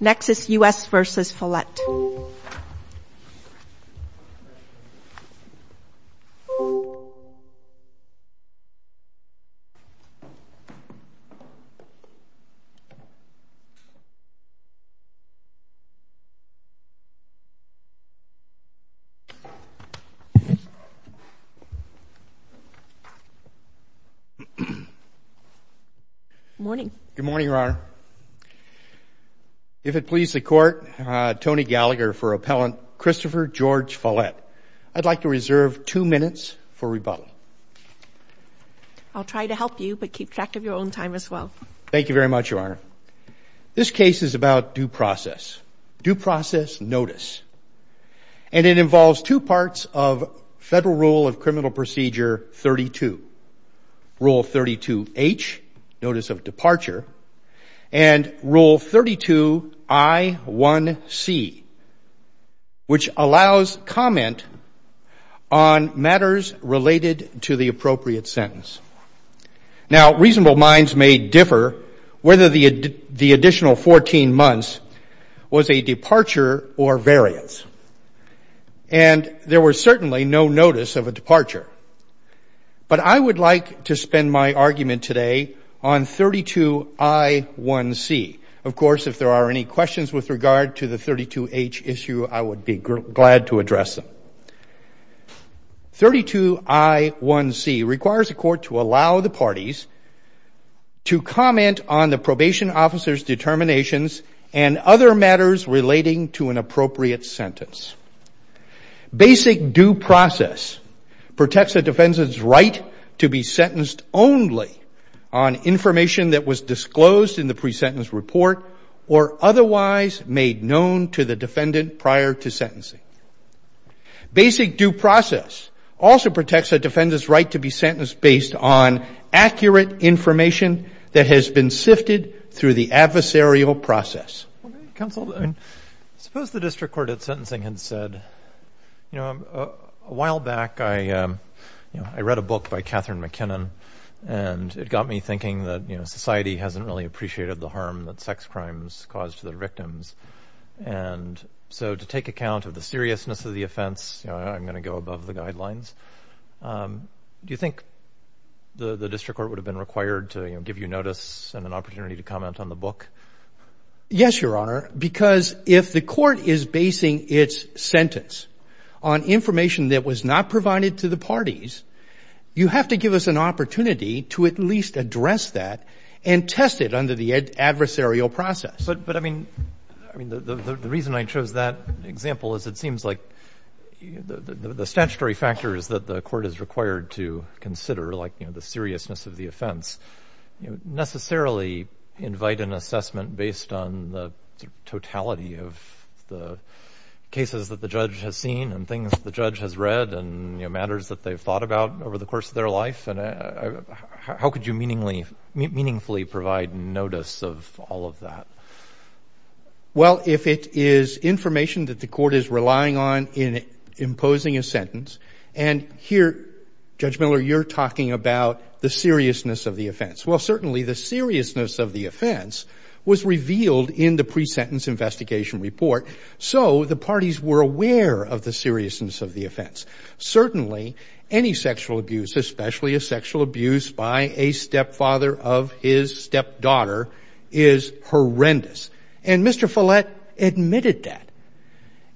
Next is U.S. v. Follette. Good morning, Your Honor. If it pleases the Court, Tony Gallagher for Appellant Christopher George Follette. I'd like to reserve two minutes for rebuttal. I'll try to help you, but keep track of your own time as well. Thank you very much, Your Honor. This case is about due process. Due process notice. And it involves two parts of Federal Rule of Criminal Procedure 32. Rule 32H, notice of departure. And Rule 32I1C, which allows comment on matters related to the appropriate sentence. Now, reasonable minds may differ whether the additional 14 months was a departure or variance. And there was certainly no notice of a departure. But I would like to spend my argument today on 32I1C. Of course, if there are any questions with regard to the 32H issue, I would be glad to address them. 32I1C requires the Court to allow the parties to comment on the probation officer's determinations and other matters relating to an appropriate sentence. Basic due process protects a defendant's right to be sentenced only on information that was disclosed in the pre-sentence report or otherwise made known to the defendant prior to sentencing. Basic due process also protects a defendant's right to be sentenced based on accurate information that has been sifted through the adversarial process. Counsel, suppose the district court at sentencing had said, you know, a while back I read a book by Katherine McKinnon and it got me thinking that society hasn't really appreciated the harm that sex crimes cause to their victims. And so to take account of the seriousness of the offense, I'm going to go above the guidelines. Do you think the district court would have been required to give you notice and an opportunity to comment on the book? Yes, Your Honor, because if the court is basing its sentence on information that was not provided to the parties, you have to give us an opportunity to at least address that and test it under the adversarial process. But, I mean, the reason I chose that example is it seems like the statutory factors that the court is required to consider, like the seriousness of the offense, necessarily invite an assessment based on the totality of the cases that the judge has seen and things the judge has read and matters that they've thought about over the course of their life. And how could you meaningfully provide notice of all of that? Well, if it is information that the court is relying on in imposing a sentence, and here, Judge Miller, you're talking about the seriousness of the offense. Well, certainly the seriousness of the offense was revealed in the pre-sentence investigation report, so the parties were aware of the seriousness of the offense. Certainly, any sexual abuse, especially a sexual abuse by a stepfather of his stepdaughter, is horrendous. And Mr. Follett admitted that.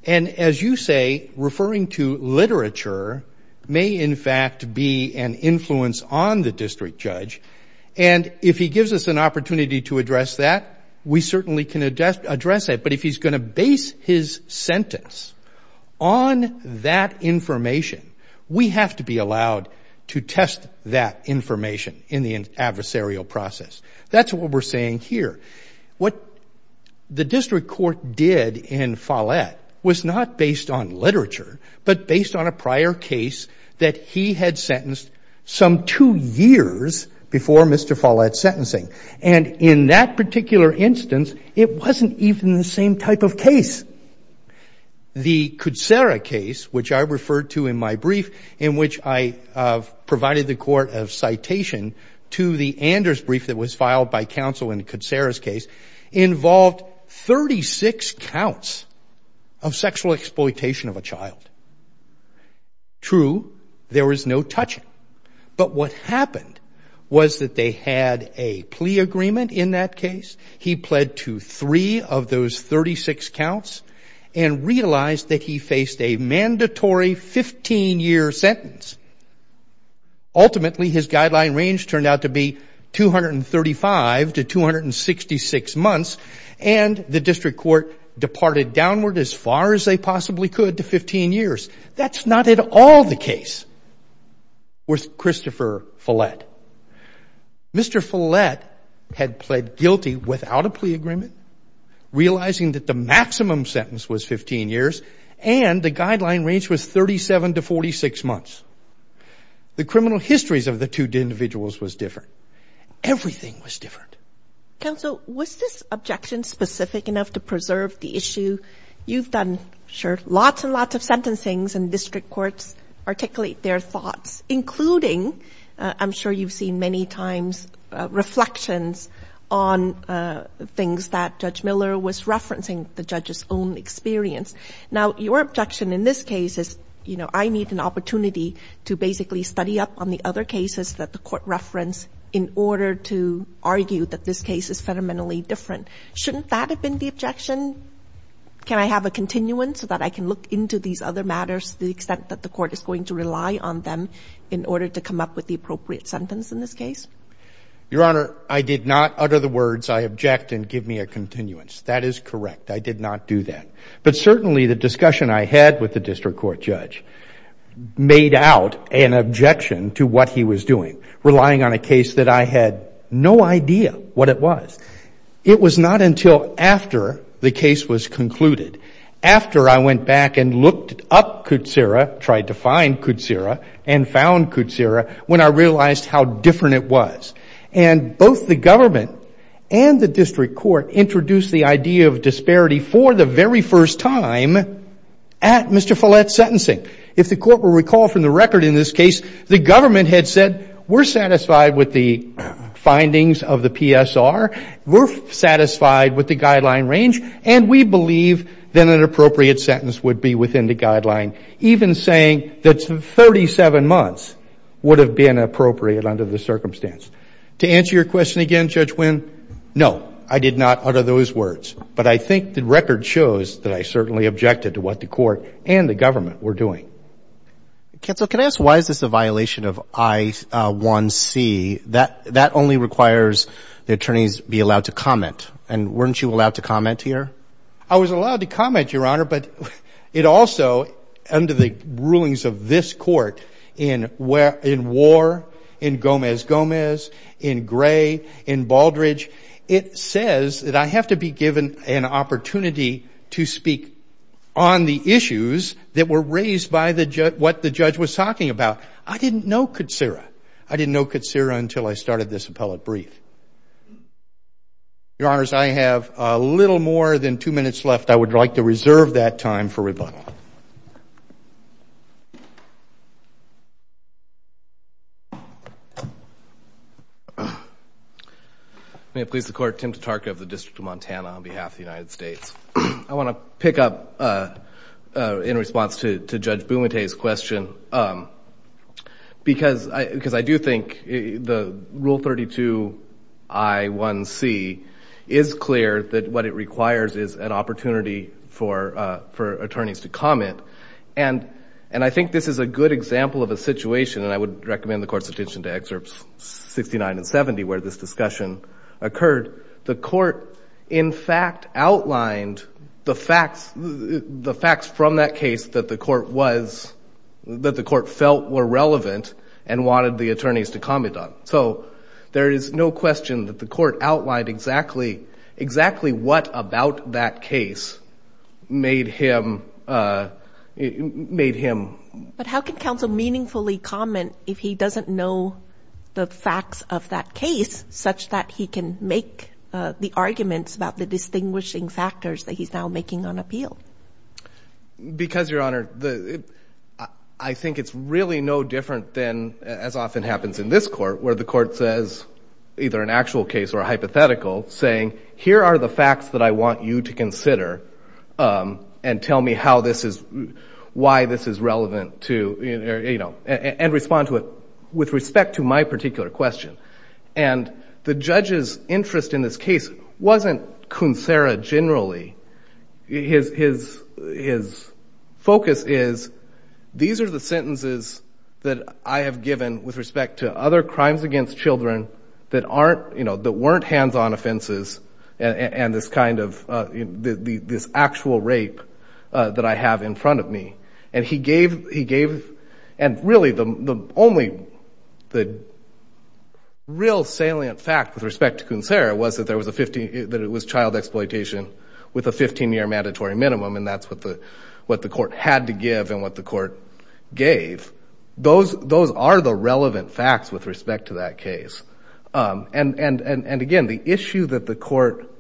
And as you say, referring to literature may, in fact, be an influence on the district judge. And if he gives us an opportunity to address that, we certainly can address it. But if he's going to base his sentence on that information, we have to be allowed to test that information in the adversarial process. That's what we're saying here. What the district court did in Follett was not based on literature, but based on a prior case that he had sentenced some two years before Mr. Follett's sentencing. And in that particular instance, it wasn't even the same type of case. The Kutsera case, which I referred to in my brief, in which I provided the court of citation to the Anders brief that was filed by counsel in Kutsera's case, involved 36 counts of sexual exploitation of a child. True, there was no touching. But what happened was that they had a plea agreement in that case. He pled to three of those 36 counts and realized that he faced a mandatory 15-year sentence. Ultimately, his guideline range turned out to be 235 to 266 months, and the district court departed downward as far as they possibly could to 15 years. That's not at all the case with Christopher Follett. Mr. Follett had pled guilty without a plea agreement, realizing that the maximum sentence was 15 years, and the guideline range was 37 to 46 months. The criminal histories of the two individuals was different. Everything was different. Counsel, was this objection specific enough to preserve the issue? You've done, sure, lots and lots of sentencings, and district courts articulate their thoughts, including, I'm sure you've seen many times, reflections on things that Judge Miller was referencing, the judge's own experience. Now, your objection in this case is, you know, I need an opportunity to basically study up on the other cases that the court referenced in order to argue that this case is fundamentally different. Shouldn't that have been the objection? Can I have a continuance so that I can look into these other matters to the extent that the court is going to rely on them? In order to come up with the appropriate sentence in this case? Your Honor, I did not utter the words, I object and give me a continuance. That is correct. I did not do that. But certainly the discussion I had with the district court judge made out an objection to what he was doing, relying on a case that I had no idea what it was. It was not until after the case was concluded, after I went back and looked up Kutsera, tried to find Kutsera and found Kutsera, when I realized how different it was. And both the government and the district court introduced the idea of disparity for the very first time at Mr. Follett's sentencing. If the court will recall from the record in this case, the government had said we're satisfied with the findings of the PSR, we're satisfied with the guideline range, and we believe that an appropriate sentence would be within the guideline, even saying that 37 months would have been appropriate under the circumstance. To answer your question again, Judge Winn, no, I did not utter those words. But I think the record shows that I certainly objected to what the court and the government were doing. Counsel, can I ask why is this a violation of I-1C? That only requires the attorneys be allowed to comment. And weren't you allowed to comment here? I was allowed to comment, Your Honor, but it also, under the rulings of this court, in War, in Gomez-Gomez, in Gray, in Baldridge, it says that I have to be given an opportunity to speak on the issues that were raised by what the judge was talking about. I didn't know Kutsera. I didn't know Kutsera until I started this appellate brief. Your Honors, I have a little more than two minutes left. I would like to reserve that time for rebuttal. May it please the Court, Tim Tatarka of the District of Montana on behalf of the United States. I want to pick up, in response to Judge Bumate's question, because I do think the Rule 32 I-1C is clear that what it requires is an opportunity for attorneys to comment. And I think this is a good example of a situation, and I would recommend the Court's attention to Excerpts 69 and 70, where this discussion occurred. The Court, in fact, outlined the facts from that case that the Court was, that the Court felt were relevant and wanted the attorneys to comment on. So there is no question that the Court outlined exactly what about that case made him, made him. But how can counsel meaningfully comment if he doesn't know the facts of that case, such that he can make the arguments about the distinguishing factors that he's now making on appeal? Because, Your Honor, I think it's really no different than, as often happens in this Court, where the Court says, either an actual case or a hypothetical, saying, here are the facts that I want you to consider and tell me how this is, why this is relevant to, you know, and respond to it with respect to my particular question. And the judge's interest in this case wasn't Coonsera generally. His focus is, these are the sentences that I have given with respect to other crimes against children that aren't, you know, that weren't hands-on offenses and this kind of, this actual rape that I have in front of me. And he gave, and really the only real salient fact with respect to Coonsera was that there was a 15, that it was child exploitation with a 15-year mandatory minimum, and that's what the Court had to give and what the Court gave. Those are the relevant facts with respect to that case. And, again, the issue that the Court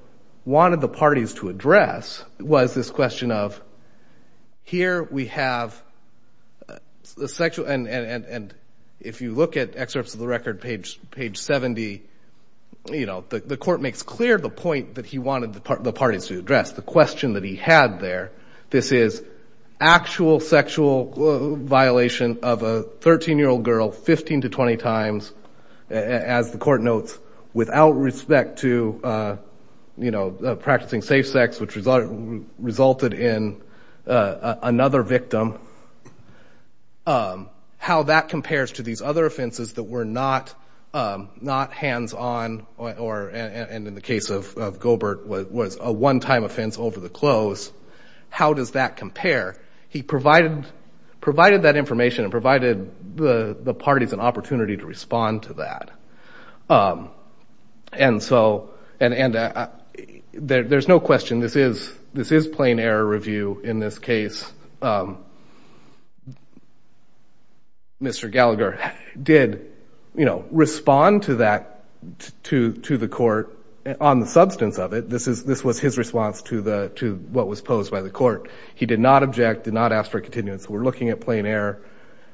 wanted the parties to address was this question of, here we have the sexual, and if you look at excerpts of the record, page 70, you know, the Court makes clear the point that he wanted the parties to address, the question that he had there. This is actual sexual violation of a 13-year-old girl 15 to 20 times, as the Court notes, without respect to, you know, practicing safe sex, which resulted in another victim. How that compares to these other offenses that were not hands-on or, and in the case of Gobert was a one-time offense over the close. How does that compare? He provided that information and provided the parties an opportunity to respond to that. And so, and there's no question this is plain error review in this case. Mr. Gallagher did, you know, respond to that, to the Court on the substance of it. This was his response to what was posed by the Court. He did not object, did not ask for a continuance. We're looking at plain error,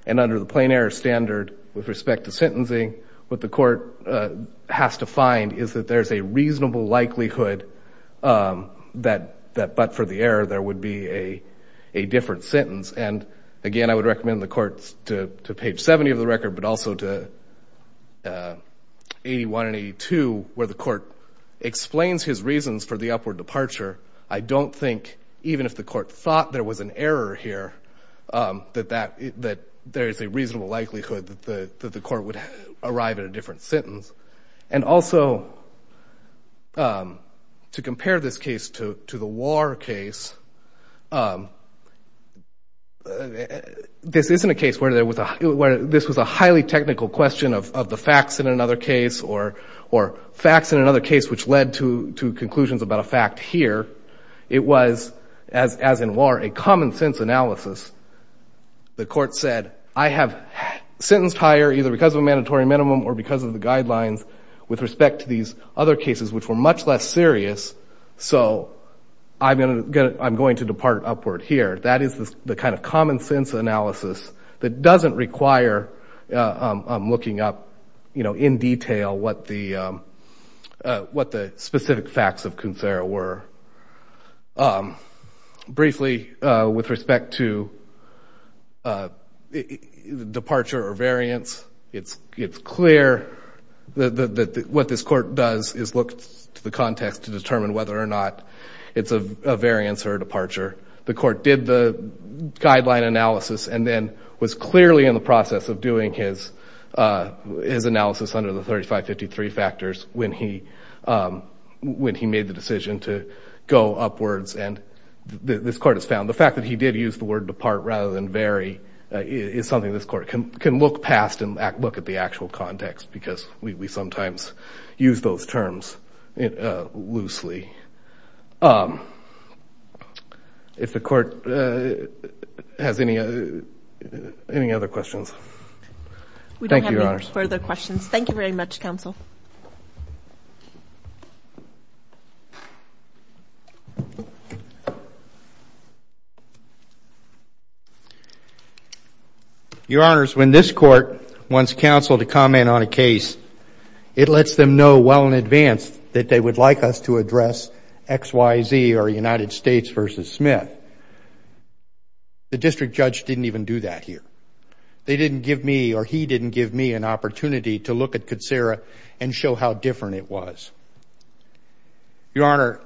and under the plain error standard with respect to sentencing, what the Court has to find is that there's a reasonable likelihood that, but for the error, there would be a different sentence. And, again, I would recommend the Court to page 70 of the record, but also to 81 and 82, where the Court explains his reasons for the upward departure. I don't think, even if the Court thought there was an error here, that there is a reasonable likelihood that the Court would arrive at a different sentence. And also, to compare this case to the war case, this isn't a case where this was a highly technical question of the facts in another case or facts in another case which led to conclusions about a fact here. It was, as in war, a common-sense analysis. The Court said, I have sentenced higher either because of a mandatory minimum or because of the guidelines with respect to these other cases which were much less serious, so I'm going to depart upward here. That is the kind of common-sense analysis that doesn't require looking up in detail what the specific facts of Coonsera were. Briefly, with respect to departure or variance, it's clear that what this Court does is look to the context to determine whether or not it's a variance or a departure. The Court did the guideline analysis and then was clearly in the process of doing his analysis under the 3553 factors when he made the decision to go upwards. And this Court has found the fact that he did use the word depart rather than vary is something this Court can look past and look at the actual context because we sometimes use those terms loosely. If the Court has any other questions. Thank you, Your Honors. We don't have any further questions. Thank you very much, Counsel. Your Honors, when this Court wants counsel to comment on a case, it lets them know well in advance that they would like us to address XYZ or United States v. Smith. The district judge didn't even do that here. They didn't give me or he didn't give me an opportunity to look at Coonsera and show how different it was. Your Honor,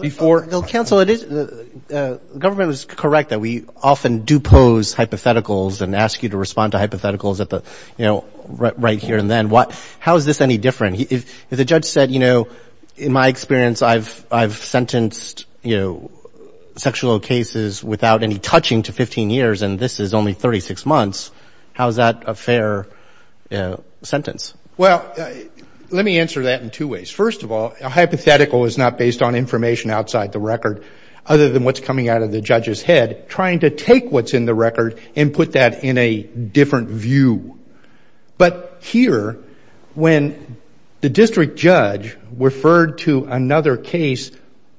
before. Counsel, the government was correct that we often do pose hypotheticals and ask you to respond to hypotheticals at the, you know, right here and then. How is this any different? If the judge said, you know, in my experience, I've sentenced, you know, sexual cases without any touching to 15 years and this is only 36 months, how is that a fair sentence? Well, let me answer that in two ways. First of all, a hypothetical is not based on information outside the record other than what's coming out of the judge's head, trying to take what's in the record and put that in a different view. But here, when the district judge referred to another case,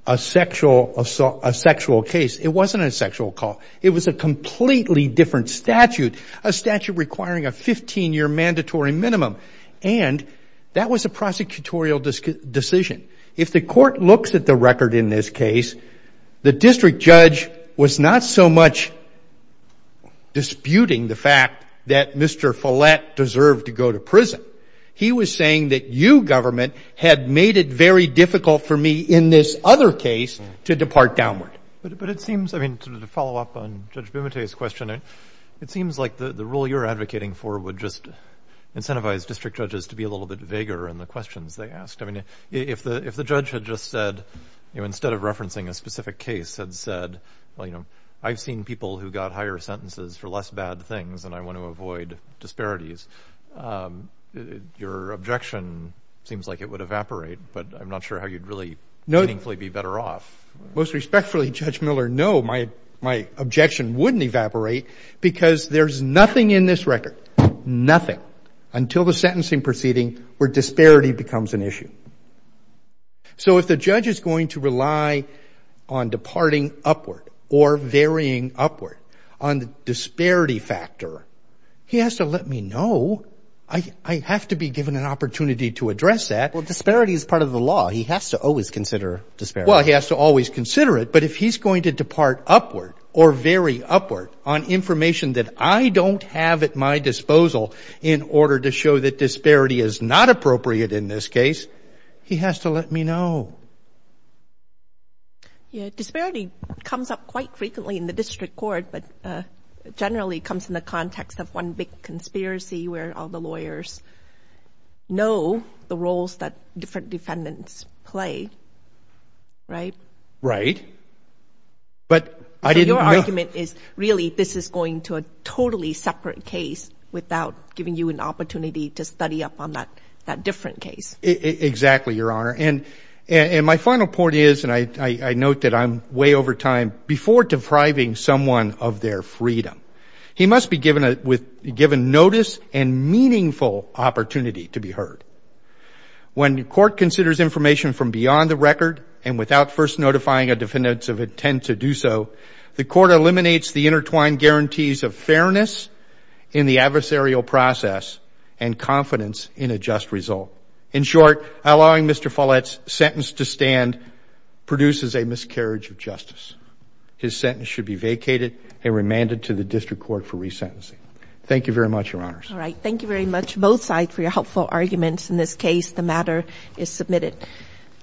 a sexual case, it wasn't a sexual call. It was a completely different statute, a statute requiring a 15-year mandatory minimum. And that was a prosecutorial decision. If the court looks at the record in this case, the district judge was not so much disputing the fact that Mr. Follett deserved to go to prison. He was saying that you, government, had made it very difficult for me in this other case to depart downward. But it seems, I mean, to follow up on Judge Bumate's question, it seems like the rule you're advocating for would just incentivize district judges to be a little bit vaguer in the questions they asked. I mean, if the judge had just said, you know, instead of referencing a specific case, had said, well, you know, I've seen people who got higher sentences for less bad things, and I want to avoid disparities, your objection seems like it would evaporate. But I'm not sure how you'd really meaningfully be better off. Most respectfully, Judge Miller, no, my objection wouldn't evaporate because there's nothing in this record, nothing, until the sentencing proceeding where disparity becomes an issue. So if the judge is going to rely on departing upward or varying upward on the disparity factor, he has to let me know. I have to be given an opportunity to address that. Well, disparity is part of the law. He has to always consider disparity. Well, he has to always consider it, but if he's going to depart upward or vary upward on information that I don't have at my disposal in order to show that disparity is not appropriate in this case, he has to let me know. Yeah, disparity comes up quite frequently in the district court, but generally comes in the context of one big conspiracy where all the lawyers know the roles that different defendants play, right? Right. Your argument is really this is going to a totally separate case without giving you an opportunity to study up on that different case. Exactly, Your Honor. And my final point is, and I note that I'm way over time, before depriving someone of their freedom, he must be given notice and meaningful opportunity to be heard. When court considers information from beyond the record and without first notifying a defendant of intent to do so, the court eliminates the intertwined guarantees of fairness in the adversarial process and confidence in a just result. In short, allowing Mr. Follett's sentence to stand produces a miscarriage of justice. His sentence should be vacated and remanded to the district court for resentencing. Thank you very much, Your Honors. All right. Thank you very much, both sides, for your helpful arguments. In this case, the matter is submitted.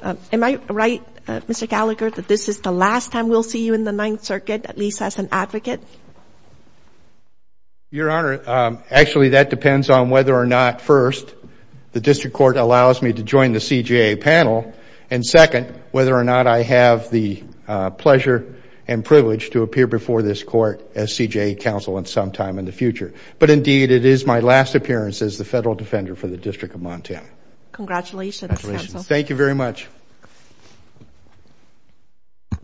Am I right, Mr. Gallagher, that this is the last time we'll see you in the Ninth Circuit, at least as an advocate? Your Honor, actually, that depends on whether or not, first, the district court allows me to join the CJA panel, and, second, whether or not I have the pleasure and privilege to appear before this court as CJA counsel at some time in the future. But, indeed, it is my last appearance as the federal defender for the District of Montana. Congratulations. Thank you very much.